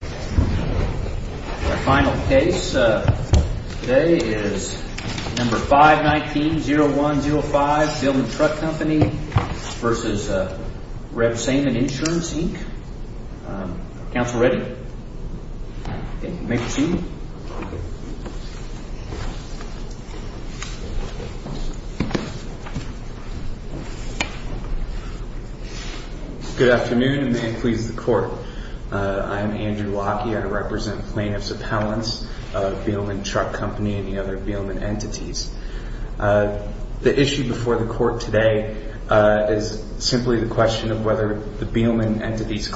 Our final case today is No. 519-0105, Beelman Truck Co. v. Rebsamen Insurance, Inc. Counsel ready? You may proceed. Good afternoon, and may it please the Court, I am Andrew Locke, and I represent plaintiffs' appellants of Beelman Truck Co. and the other Beelman entities. The issue before the Court today is simply the question of whether the Beelman entity's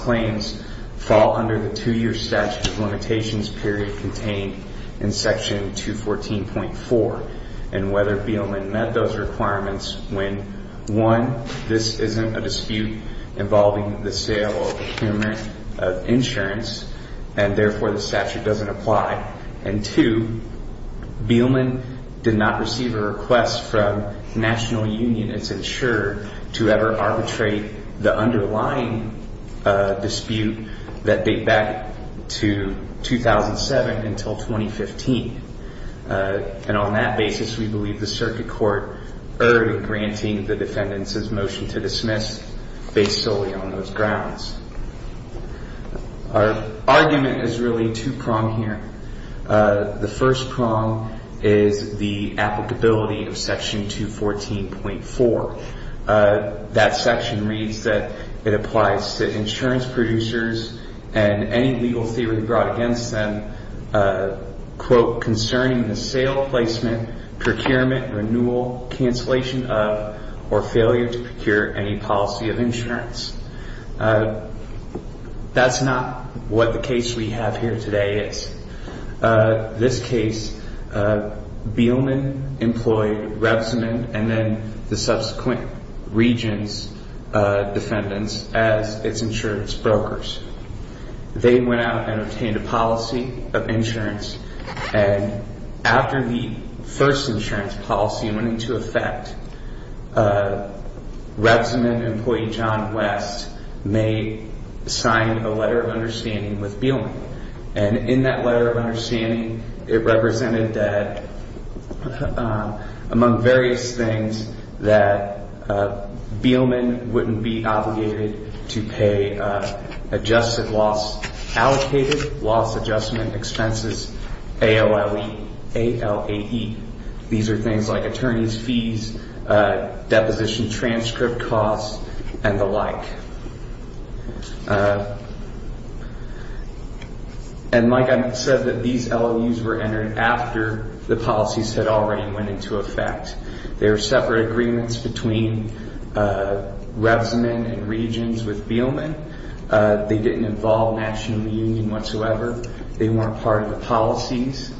period contained in Section 214.4, and whether Beelman met those requirements when, one, this isn't a dispute involving the sale or procurement of insurance, and therefore the statute doesn't apply, and two, Beelman did not receive a request from the National Union and its insurer to ever arbitrate the underlying dispute that date back to 2007 until 2015. And on that basis, we believe the Circuit Court erred in granting the defendants' motion to dismiss based solely on those grounds. Our argument is really two-pronged here. The first prong is the applicability of Section 214.4. That section reads that it applies to insurance producers and any legal theory brought against them, quote, concerning the sale, placement, procurement, renewal, cancellation of, or That's not what the case we have here today is. This case, Beelman employed Revzeman and then the subsequent region's defendants as its insurance brokers. They went out and obtained a policy of insurance, and after the first insurance policy went into effect, Revzeman employee John West may sign a letter of understanding with Beelman. And in that letter of understanding, it represented that, among various things, that Beelman wouldn't be obligated to pay adjusted loss, allocated loss adjustment expenses, A-L-L-E, A-L-A-E. These are things like attorney's fees, deposition transcript costs, and the like. And like I said, that these LOUs were entered after the policies had already went into effect. They were separate agreements between Revzeman and regions with Beelman. They didn't involve National Union whatsoever. They weren't part of the policies.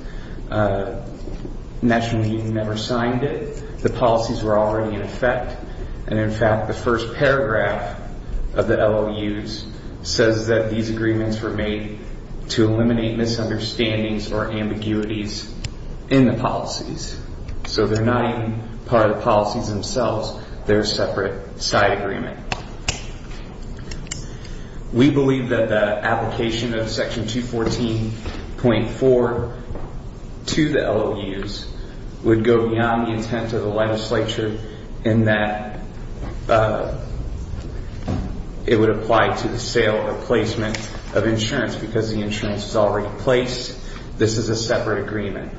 National Union never signed it. The policies were already in effect. And in fact, the first paragraph of the LOUs says that these agreements were made to eliminate misunderstandings or ambiguities in the policies. So they're not even part of the policies themselves. They're a separate side agreement. We believe that the application of Section 214.4 to the LOUs would go beyond the intent of the legislature in that it would apply to the sale or placement of insurance because the insurance is already in place. This is a separate agreement.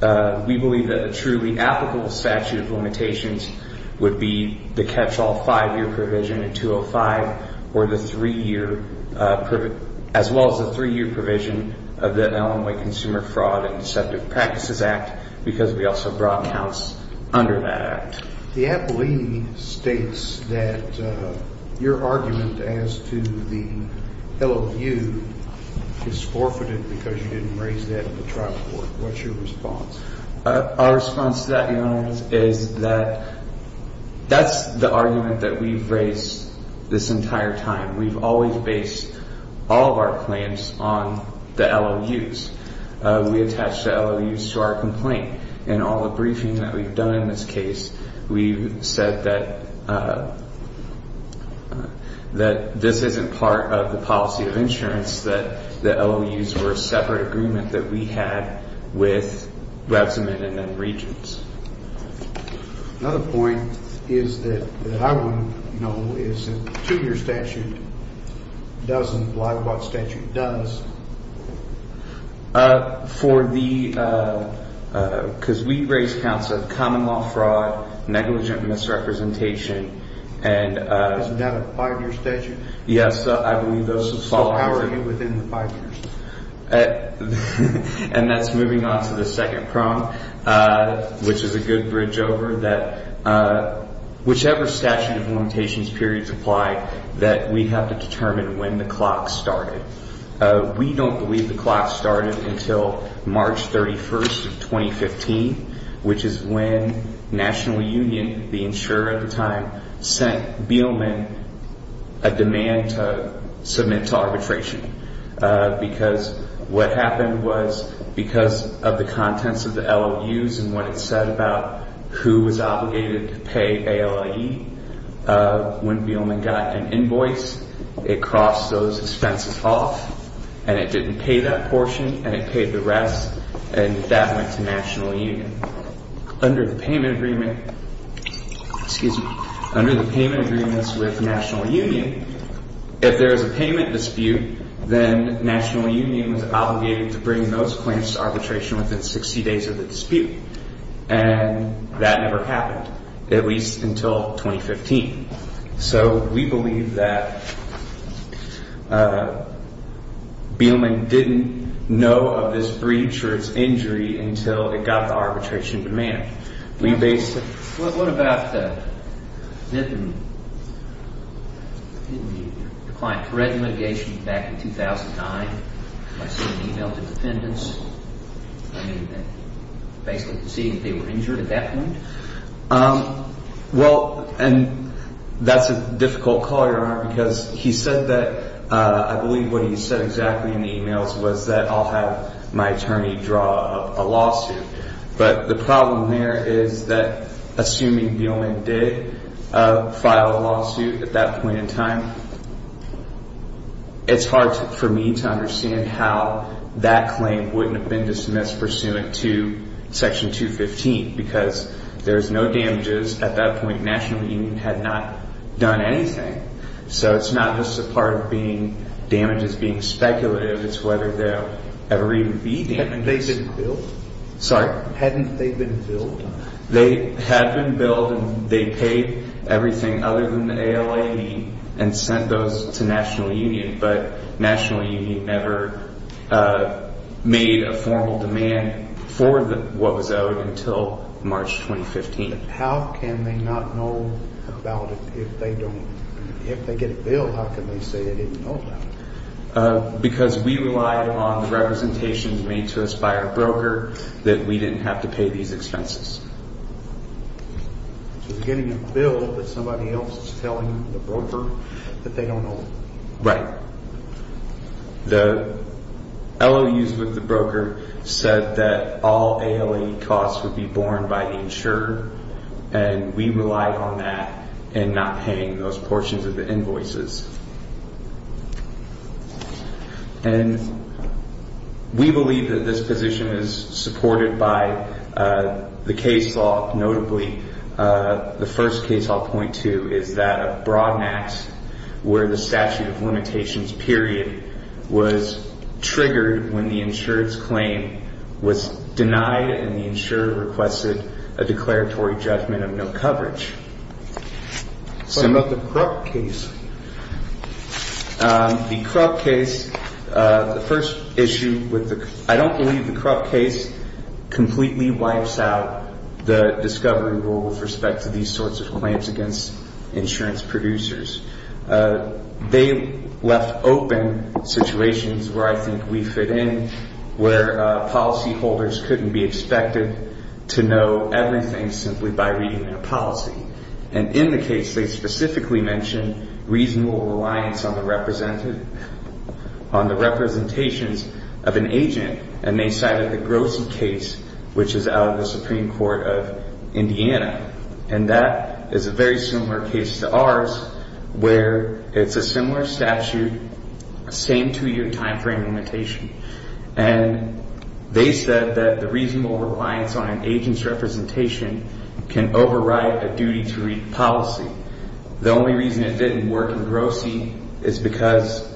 We believe that the truly applicable statute of limitations would be the catch-all five-year provision in 205 or the three-year, as well as the three-year provision of the Illinois Consumer Fraud and Deceptive Practices Act because we also brought counts under that act. The A-P-L-E states that your argument as to the LOU is forfeited because you didn't raise it at the trial court. What's your response? Our response to that, Your Honor, is that that's the argument that we've raised this entire time. We've always based all of our claims on the LOUs. We attached the LOUs to our complaint. In all the briefings that we've done in this case, we've said that this isn't part of the that we had with Webbs Amendment and Regents. Another point is that I wouldn't know if a two-year statute doesn't apply to what statute does. We raised counts of common law fraud, negligent misrepresentation. Is that a five-year statute? Yes, I believe those fall out. How are you within the five years? And that's moving on to the second prong, which is a good bridge over, that whichever statute of limitations periods apply, that we have to determine when the clock started. We don't believe the clock started until March 31st of 2015, which is when National Union, the insurer at the time, sent Beelman a demand to submit to arbitration. Because what happened was, because of the contents of the LOUs and what it said about who was obligated to pay ALIE, when Beelman got an invoice, it crossed those expenses off and it didn't pay that portion, and it paid the rest, and that went to National Union. Under the payment agreement with National Union, if there is a payment dispute, then National Union was obligated to bring those claims to arbitration within 60 days of the dispute, and that never happened, at least until 2015. So we believe that Beelman didn't know of this breach or its injury until it got to arbitration demand. What about the client's mitigation back in 2009, by sending an email to defendants, basically conceding that they were injured at that point? Well, and that's a difficult call, Your Honor, because he said that, I believe what he said exactly in the emails was that, I'll have my attorney draw up a lawsuit. But the problem there is that, assuming Beelman did file a lawsuit at that point in time, it's hard for me to understand how that claim wouldn't have been dismissed pursuant to Section 215, because there was no damages at that point. National Union had not done anything. So it's not just a part of being damages being speculative, it's whether there will ever even be damages. Hadn't they been billed? Sorry? Hadn't they been billed? They had been billed and they paid everything other than the ALAD and sent those to National Union never made a formal demand for what was owed until March 2015. How can they not know about it if they don't, if they get a bill, how can they say they didn't know about it? Because we relied on representations made to us by our broker that we didn't have to pay these expenses. So they're getting a bill, but somebody else is telling the broker that they don't know? Right. The LOUs with the broker said that all ALAD costs would be borne by the insurer and we relied on that and not paying those portions of the invoices. And we believe that this position is supported by the case law, notably the first case law point two is that of Broadmax where the statute of limitations period was triggered when the insurer's claim was denied and the insurer requested a declaratory judgment of no coverage. What about the Krupp case? The Krupp case, the first issue with the, I don't believe the Krupp case completely wipes out the discovery rule with respect to these sorts of claims against insurance producers. They left open situations where I think we fit in, where policy holders couldn't be expected to know everything simply by reading their policy. And in the case they specifically mentioned reasonable reliance on the representative, on the representations of an agent and they cited the Grossi case, which is out of the Supreme Court of Indiana. And that is a very similar case to ours where it's a similar statute, same two year time frame limitation. And they said that the reasonable reliance on an agent's representation can override a duty to read policy. The only reason it didn't work in Grossi is because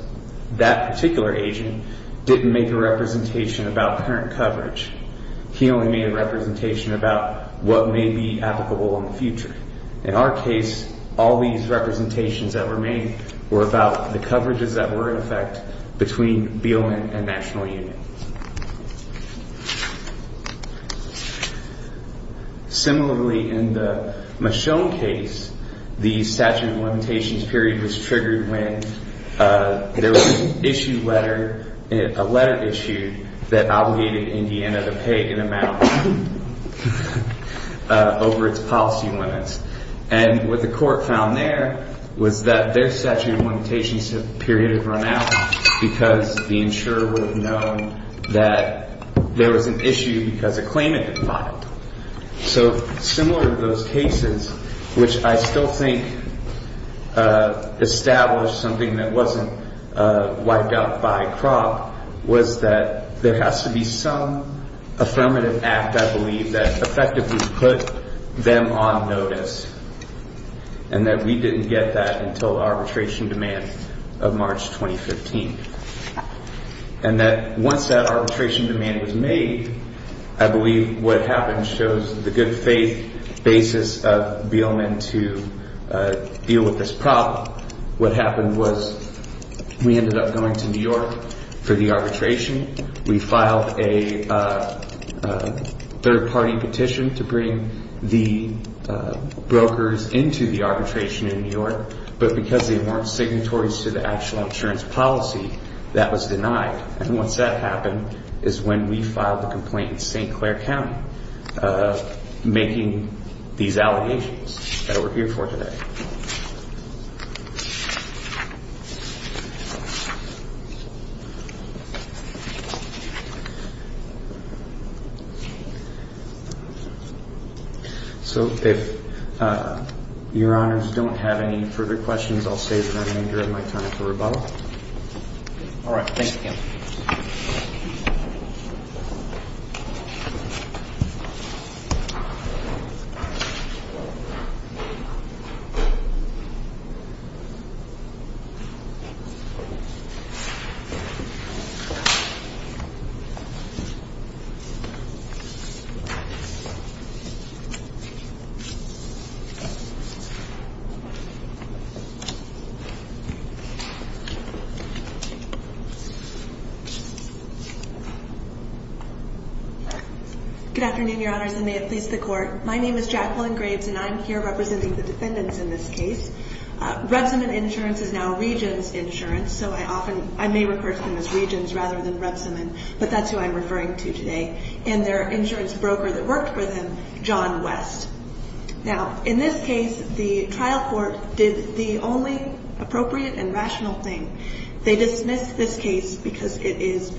that particular agent didn't make a representation about current coverage. He only made a representation about what may be applicable in the future. In our case, all these representations that were made were about the coverages that were in effect between Beelman and National Union. Similarly, in the Michonne case, the statute of limitations period was triggered when there was an issue letter, a letter issued that obligated Indiana to pay an amount over its policy limits. And what the court found there was that their statute of limitations period had run out because the insurer would have known that there was an issue because a claimant had filed. So similar to those cases, which I still think established something that wasn't wiped out by crop, was that there has to be some affirmative act, I believe, that effectively put them on notice. And that we didn't get that until arbitration demand of March 2015. And that once that arbitration demand was made, I believe what happened shows the good faith basis of Beelman to deal with this problem. What happened was we ended up going to New York for the arbitration. We filed a third party petition to bring the brokers into the arbitration in New York. But because they weren't signatories to the actual insurance policy, that was denied. And once that happened is when we filed a complaint in St. Clair County making these allegations that we're here for today. So if your honors don't have any further questions, I'll save the remainder of my time for rebuttal. All right. Thank you. Good afternoon, your honors, and may it please the court. My name is Jacqueline Graves, and I'm here representing the defendants in this case. Rebsamon Insurance is now Regions Insurance, so I often, I may refer to them as Regions rather than Rebsamon, but that's who I'm referring to today. And their insurance broker that worked for them, John West. Now, in this case, the trial court did the only appropriate and rational thing. They dismissed this case because it is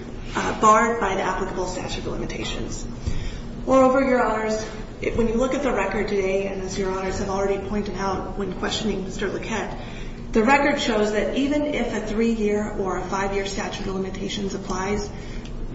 barred by the applicable statute of limitations. Moreover, your honors, when you look at the record today, and as your honors have already pointed out when questioning Mr. Lequette, the record shows that even if a three-year or a five-year statute of limitations applies,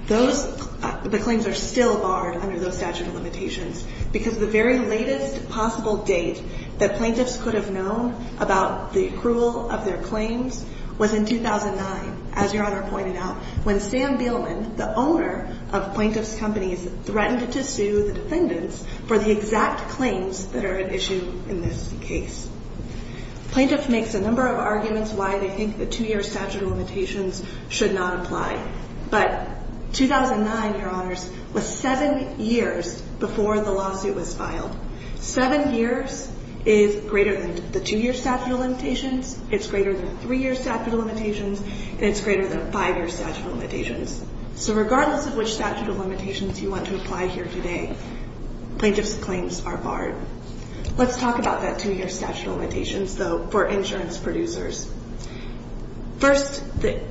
those, the claims are still barred under those statute of limitations because the very latest possible date that plaintiffs could have known about the accrual of their claims was in 2009, as your honor pointed out, when Sam Beelman, the owner of Plaintiff's Companies, threatened to sue the defendants for the exact claims that are at issue in this case. Plaintiff makes a number of arguments why they think the two-year statute of limitations should not apply, but 2009, your honors, was seven years before the lawsuit was filed. Seven years is greater than the two-year statute of limitations, it's greater than three-year statute of limitations, and it's greater than five-year statute of limitations. So regardless of which statute of limitations you want to apply here today, plaintiff's claims are barred. Let's talk about that two-year statute of limitations, though, for insurance producers. First, the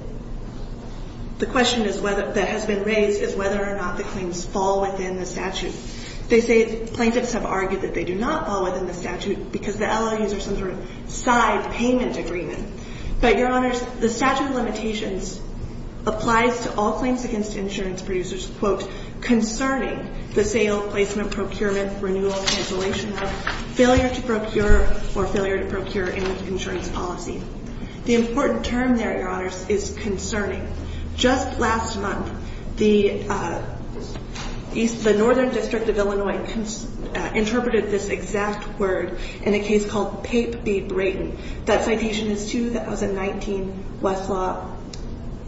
question that has been raised is whether or not the claims fall within the statute. They say plaintiffs have argued that they do not fall within the statute because the statute of limitations applies to all claims against insurance producers, quote, concerning the sale, placement, procurement, renewal, cancellation of, failure to procure, or failure to procure in the insurance policy. The important term there, your honors, is concerning. Just last month, the Northern District of Illinois interpreted this exact word in a case called Pape v. Brayton. That citation is 2019 Westlaw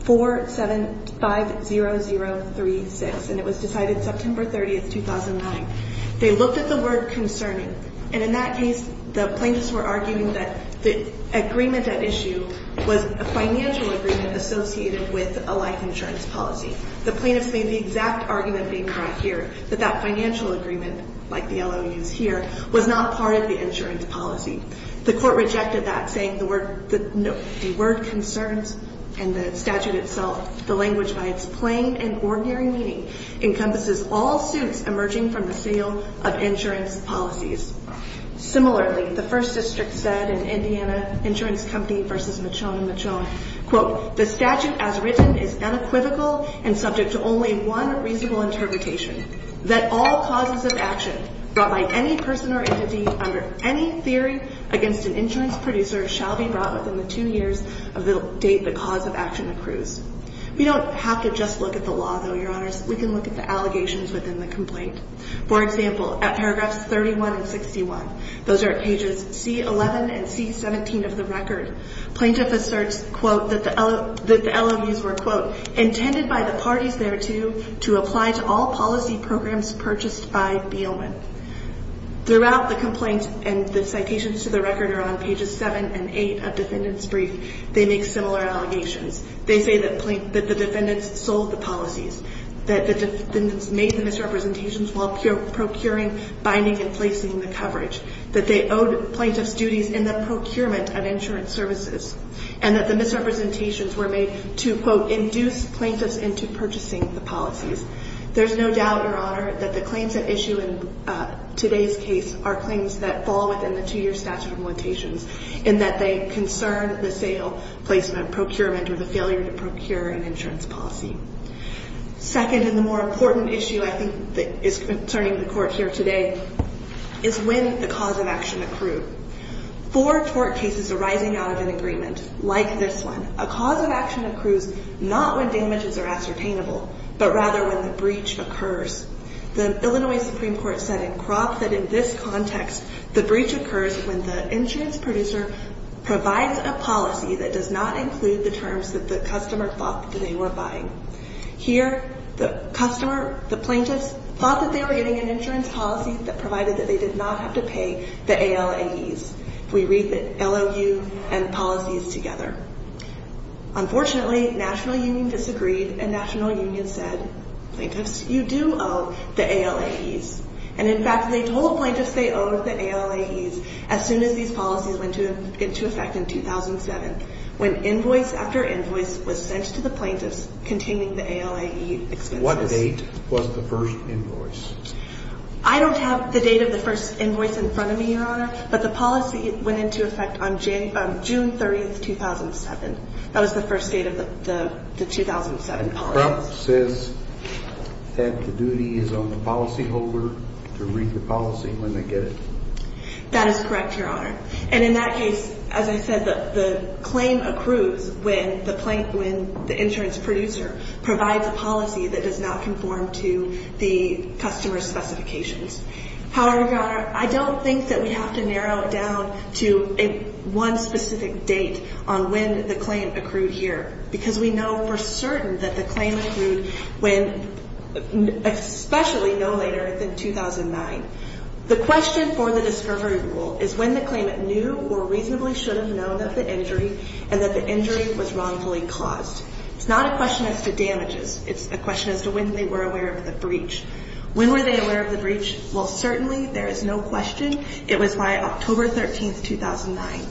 4750036, and it was decided September 30, 2009. They looked at the word concerning, and in that case, the plaintiffs were arguing that the agreement at issue was a financial agreement associated with a life insurance policy. The plaintiffs made the exact argument being brought here, that that financial agreement, like the LOU's here, was not part of the insurance policy. The court rejected that, saying the word concerns and the statute itself, the language by its plain and ordinary meaning, encompasses all suits emerging from the sale of insurance policies. Similarly, the First District said in Indiana Insurance Company v. Michon and Michon, quote, the statute as written is unequivocal and subject to only one reasonable interpretation, that all causes of action brought by any person or entity under any theory against an insurance producer shall be brought within the two years of the date the cause of action accrues. We don't have to just look at the law, though, your honors. We can look at the allegations within the complaint. For example, at paragraphs 31 and 61, those are pages C11 and C17 of the record, plaintiff asserts, quote, that the LOU's were, quote, intended by the parties thereto to apply to all policy programs purchased by Beelman. Throughout the complaint and the citations to the record around pages 7 and 8 of defendants' brief, they make similar allegations. They say that the defendants sold the policies, that the defendants made the misrepresentations while procuring, binding, and placing the coverage, that they owed plaintiffs' duties in the procurement of insurance services, and that the misrepresentations were made to, quote, plaintiffs into purchasing the policies. There's no doubt, your honor, that the claims at issue in today's case are claims that fall within the two-year statute of limitations in that they concern the sale, placement, procurement, or the failure to procure an insurance policy. Second, and the more important issue I think that is concerning the Court here today, is when the cause of action accrued. For tort cases arising out of an agreement like this one, a cause of action accrues not when damages are ascertainable, but rather when the breach occurs. The Illinois Supreme Court said in Croft that in this context, the breach occurs when the insurance producer provides a policy that does not include the terms that the customer thought that they were buying. Here, the customer, the plaintiffs, thought that they were getting an insurance policy that provided that they did not have to pay the ALAEs. We read the LOU and policies together. Unfortunately, National Union disagreed, and National Union said, plaintiffs, you do owe the ALAEs. And in fact, they told plaintiffs they owed the ALAEs as soon as these policies went into effect in 2007, when invoice after invoice was sent to the plaintiffs containing the ALAE expenses. What date was the first invoice? I don't have the date of the first invoice in front of me, your honor, but the policy went into effect on June 30, 2007. That was the first date of the 2007 policy. Croft says that the duty is on the policyholder to read the policy when they get it. That is correct, your honor. And in that case, as I said, the claim accrues when the insurance producer provides a policy that does not conform to the customer's specifications. However, your honor, I don't think that we have to narrow it down to one specific date on when the claim accrued here, because we know for certain that the claim accrued when especially no later than 2009. The question for the discovery rule is when the claimant knew or reasonably should have known of the injury and that the injury was wrongfully caused. It's not a question as to damages. It's a question as to when they were aware of the breach. When were they aware of the breach? Well, certainly there is no question. It was by October 13, 2009.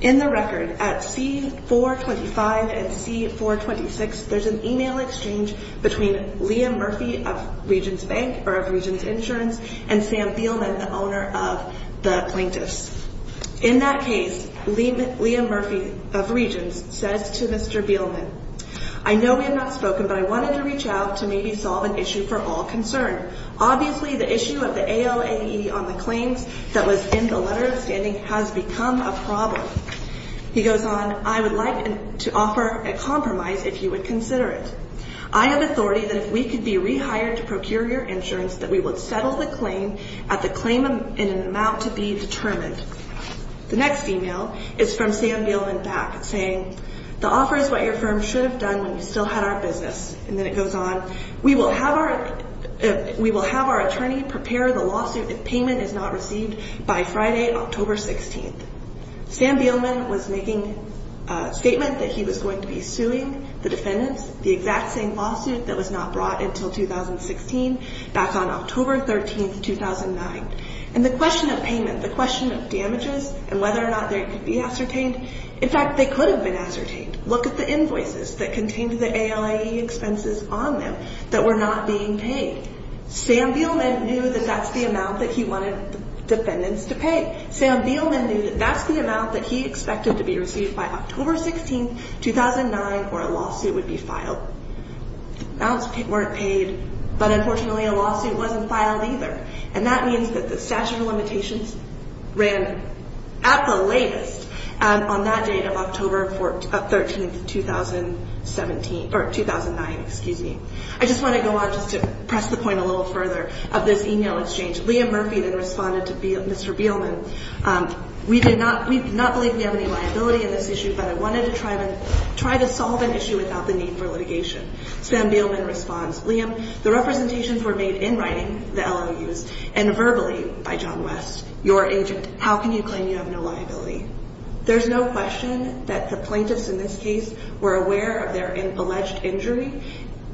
In the record, at C-425 and C-426, there's an email exchange between Liam Murphy of Regions Bank or of Regions Insurance and Sam Beelman, the owner of the plaintiffs. In that case, Liam Murphy of Regions says to Mr. Beelman, I know we have not spoken, but I wanted to reach out to maybe solve an issue for all concerned. Obviously, the issue of the ALAE on the claims that was in the letter of standing has become a problem. He goes on, I would like to offer a compromise if you would consider it. I have authority that if we could be rehired to procure your insurance, that we would settle the claim at the claim in an amount to be determined. The next email is from Sam Beelman back saying, the offer is what your firm should have done when you still had our business. And then it goes on, we will have our attorney prepare the lawsuit if payment is not received by Friday, October 16. Sam Beelman was making a statement that he was going to be suing the defendants, the exact same lawsuit that was not brought until 2016, back on October 13, 2009. And the question of payment, the question of damages, and whether or not they could be ascertained, in fact, they could have been ascertained. Look at the invoices that contained the ALAE expenses on them that were not being paid. Sam Beelman knew that that's the amount that he wanted the defendants to pay. Sam Beelman knew that that's the amount that he expected to be received by October 16, 2009, or a lawsuit would be filed. Amounts weren't paid, but unfortunately a lawsuit wasn't filed either. And that means that the statute of limitations ran at the latest on that date of October 13, 2009. I just want to go on just to press the point a little further of this email exchange. Liam Murphy then responded to Mr. Beelman, we do not believe we have any liability in this issue, but I wanted to try to solve an issue without the need for litigation. Sam Beelman responds, Liam, the representations were made in writing, the LOUs, and verbally by John West, your agent. How can you claim you have no liability? There's no question that the plaintiffs in this case were aware of their alleged injury,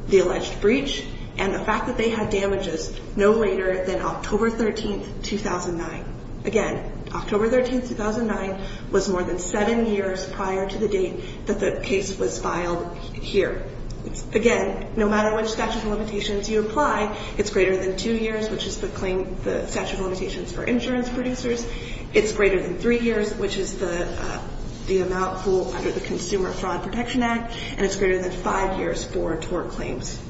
the alleged breach, and the fact that they had damages no later than October 13, 2009. Again, October 13, 2009 was more than seven years prior to the date that the case was filed here. Again, no matter which statute of limitations you apply, it's greater than two years, which is the statute of limitations for insurance producers. It's greater than three years, which is the amount under the Consumer Fraud Protection Act, and it's greater than five years for tort claims.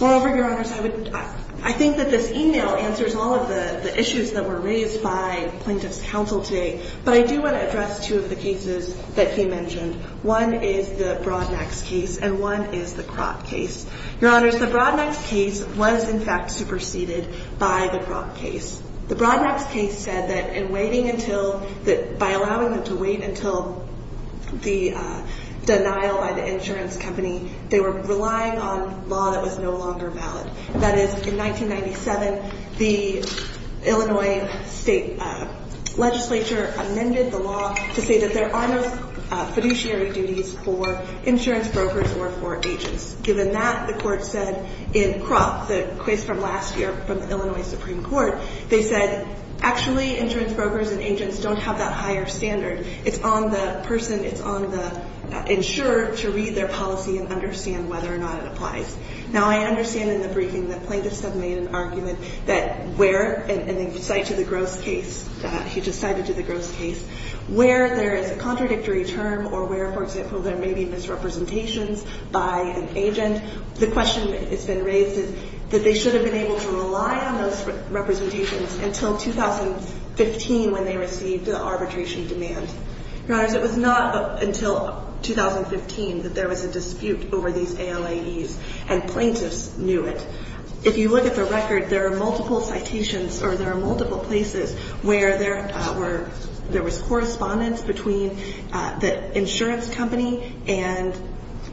Moreover, your honors, I think that this email answers all of the issues that were raised by plaintiffs' counsel today, but I do want to address two of the cases that he mentioned. One is the Broadnax case, and one is the Kroc case. Your honors, the Broadnax case was, in fact, superseded by the Kroc case. The Broadnax case said that in waiting until the ‑‑ by allowing them to wait until the denial by the insurance company, they were relying on law that was no longer valid. That is, in 1997, the Illinois State Legislature amended the law to say that there are no fiduciary duties for insurance brokers or for agents. Given that, the court said in Kroc, the case from last year from the Illinois Supreme Court, they said actually insurance brokers and agents don't have that higher standard. It's on the person, it's on the insurer to read their policy and understand whether or not it applies. Now, I understand in the briefing that plaintiffs have made an argument that where, and then you cite to the Gross case, he just cited to the Gross case, where there is a contradictory term or where, for example, there may be misrepresentations by an agent, the question that's been raised is that they should have been able to rely on those representations until 2015 when they received the arbitration demand. Your Honors, it was not until 2015 that there was a dispute over these ALAEs and plaintiffs knew it. If you look at the record, there are multiple citations or there are multiple places where there were, there was correspondence between the insurance company and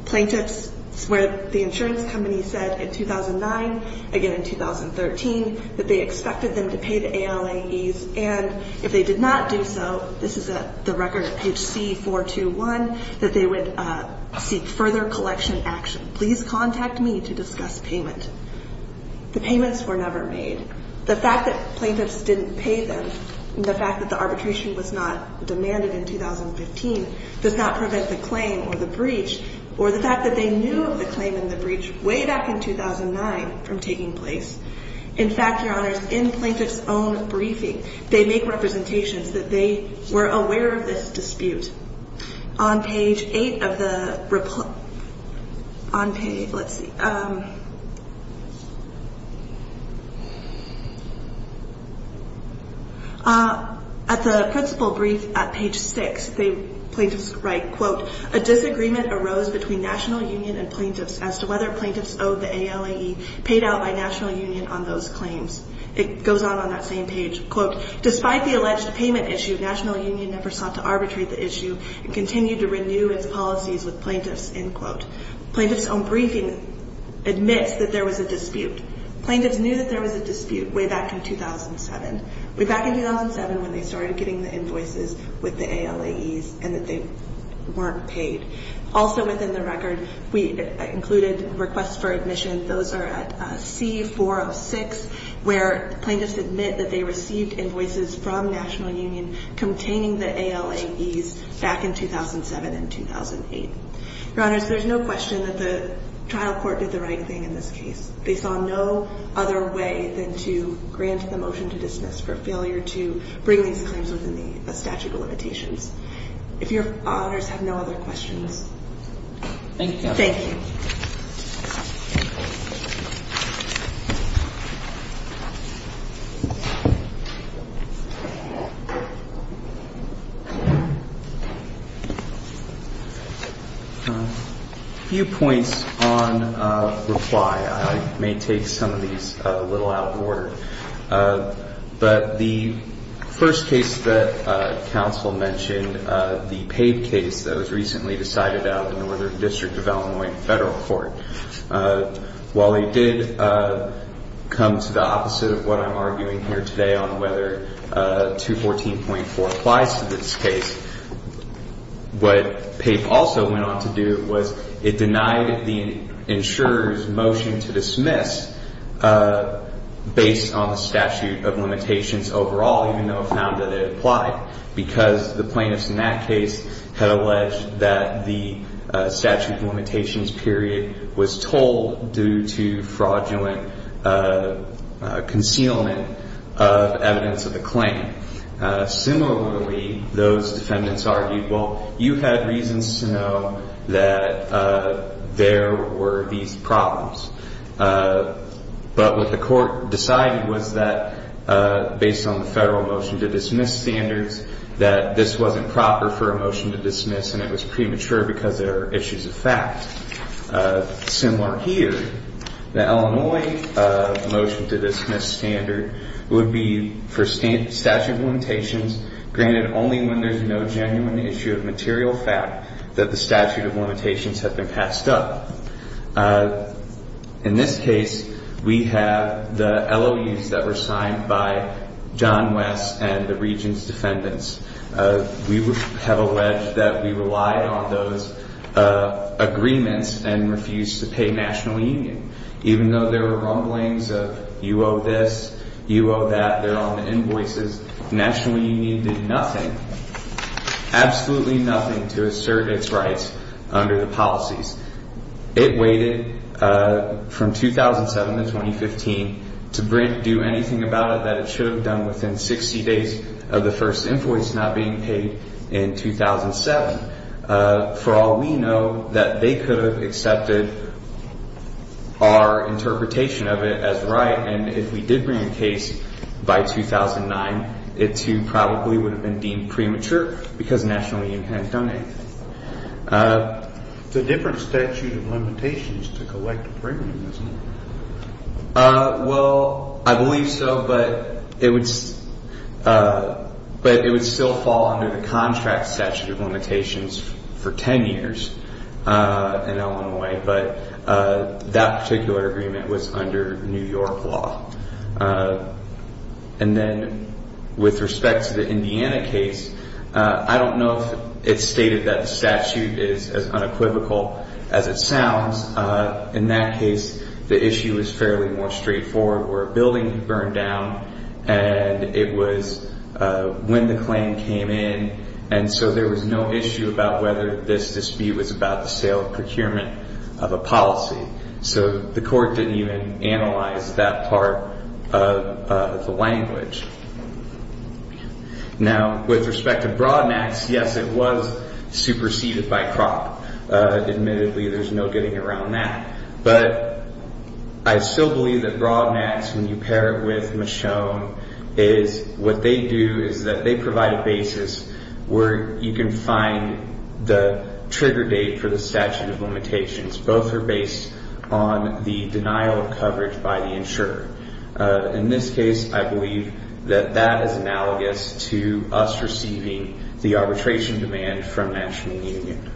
plaintiffs, where the insurance company said in 2009, again in 2013, that they expected them to pay the ALAEs and if they did not do so, this is the record at page C-421, that they would seek further collection action. Please contact me to discuss payment. The payments were never made. The fact that plaintiffs didn't pay them and the fact that the arbitration was not demanded in 2015 does not prevent the claim or the breach or the fact that they knew of the claim and the breach way back in 2009 from taking place. In fact, Your Honors, in plaintiffs' own briefing, they make representations that they were aware of this dispute. On page 8 of the, on page, let's see, at the principal brief at page 6, they, plaintiffs write, quote, a disagreement arose between National Union and plaintiffs as to whether plaintiffs owed the ALAE paid out by National Union on those claims. It goes on on that same page. Quote, despite the alleged payment issue, National Union never sought to arbitrate the issue and continued to renew its policies with plaintiffs, end quote. Plaintiffs' own briefing admits that there was a dispute. Plaintiffs knew that there was a dispute way back in 2007, way back in 2007 when they started getting the invoices with the ALAEs and that they weren't paid. Also within the record, we included requests for admission. Those are at C-406 where plaintiffs admit that they received invoices from National Union containing the ALAEs back in 2007 and 2008. Your Honors, there's no question that the trial court did the right thing in this case. They saw no other way than to grant the motion to dismiss for failure to bring these claims within the statute of limitations. If your Honors have no other questions. Thank you. Thank you. Thank you. A few points on reply. I may take some of these a little out of order. But the first case that counsel mentioned, the paid case that was recently decided out of the Northern District of Illinois Federal Court. While it did come to the opposite of what I'm arguing here today on whether 214.4 applies to this case, what PAPE also went on to do was it denied the insurer's motion to dismiss based on the statute of limitations overall, even though it found that it applied because the plaintiffs in that case had alleged that the statute of limitations period was told due to fraudulent concealment of evidence of the claim. Similarly, those defendants argued, well, you had reasons to know that there were these problems. But what the court decided was that based on the federal motion to dismiss standards, that this wasn't proper for a motion to dismiss and it was premature because there are issues of fact. Similar here, the Illinois motion to dismiss standard would be for statute of limitations granted only when there's no genuine issue of material fact that the statute of limitations had been passed up. In this case, we have the LOUs that were signed by John West and the region's defendants. We have alleged that we relied on those agreements and refused to pay National Union, even though there were rumblings of you owe this, you owe that, they're on the invoices. National Union did nothing, absolutely nothing to assert its rights under the policies. It waited from 2007 to 2015 to do anything about it that it should have done within 60 days of the first invoice not being paid in 2007. For all we know, that they could have accepted our interpretation of it as right. And if we did bring a case by 2009, it too probably would have been deemed premature because National Union hadn't done anything. It's a different statute of limitations to collect a premium, isn't it? Well, I believe so, but it would still fall under the contract statute of limitations for 10 years in Illinois. But that particular agreement was under New York law. And then with respect to the Indiana case, I don't know if it's stated that the statute is as unequivocal as it sounds. In that case, the issue is fairly more straightforward where a building burned down and it was when the claim came in. And so there was no issue about whether this dispute was about the sale or procurement of a policy. So the court didn't even analyze that part of the language. Now, with respect to Broadmax, yes, it was superseded by CROC. Admittedly, there's no getting around that. But I still believe that Broadmax, when you pair it with Michonne, is what they do is that they provide a basis where you can find the trigger date for the statute of limitations. Both are based on the denial of coverage by the insurer. In this case, I believe that that is analogous to us receiving the arbitration demand from National Union.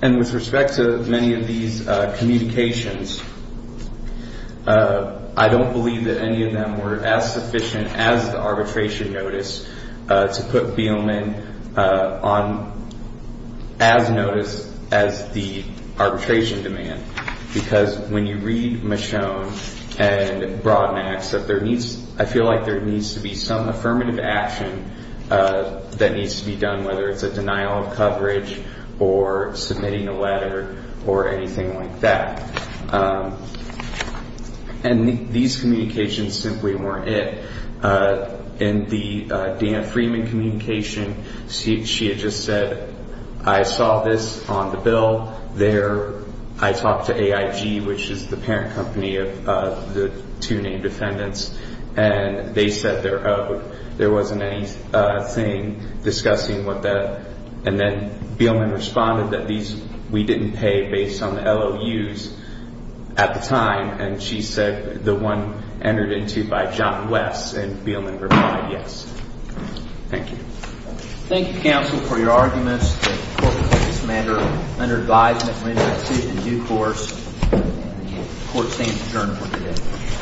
And with respect to many of these communications, I don't believe that any of them were as sufficient as the arbitration notice to put Beelman on as notice as the arbitration demand. Because when you read Michonne and Broadmax, I feel like there needs to be some affirmative action that needs to be done, whether it's a denial of coverage or submitting a letter or anything like that. And these communications simply weren't it. In the Dan Freeman communication, she had just said, I saw this on the bill there. I talked to AIG, which is the parent company of the two named defendants, and they said there wasn't anything discussing what that. And then Beelman responded that these we didn't pay based on the LOUs at the time. And she said the one entered into by John West. And Beelman replied, yes. Thank you. Thank you, counsel, for your arguments. The court will take this matter under advisement. We have a decision in due course. The court stands adjourned for today.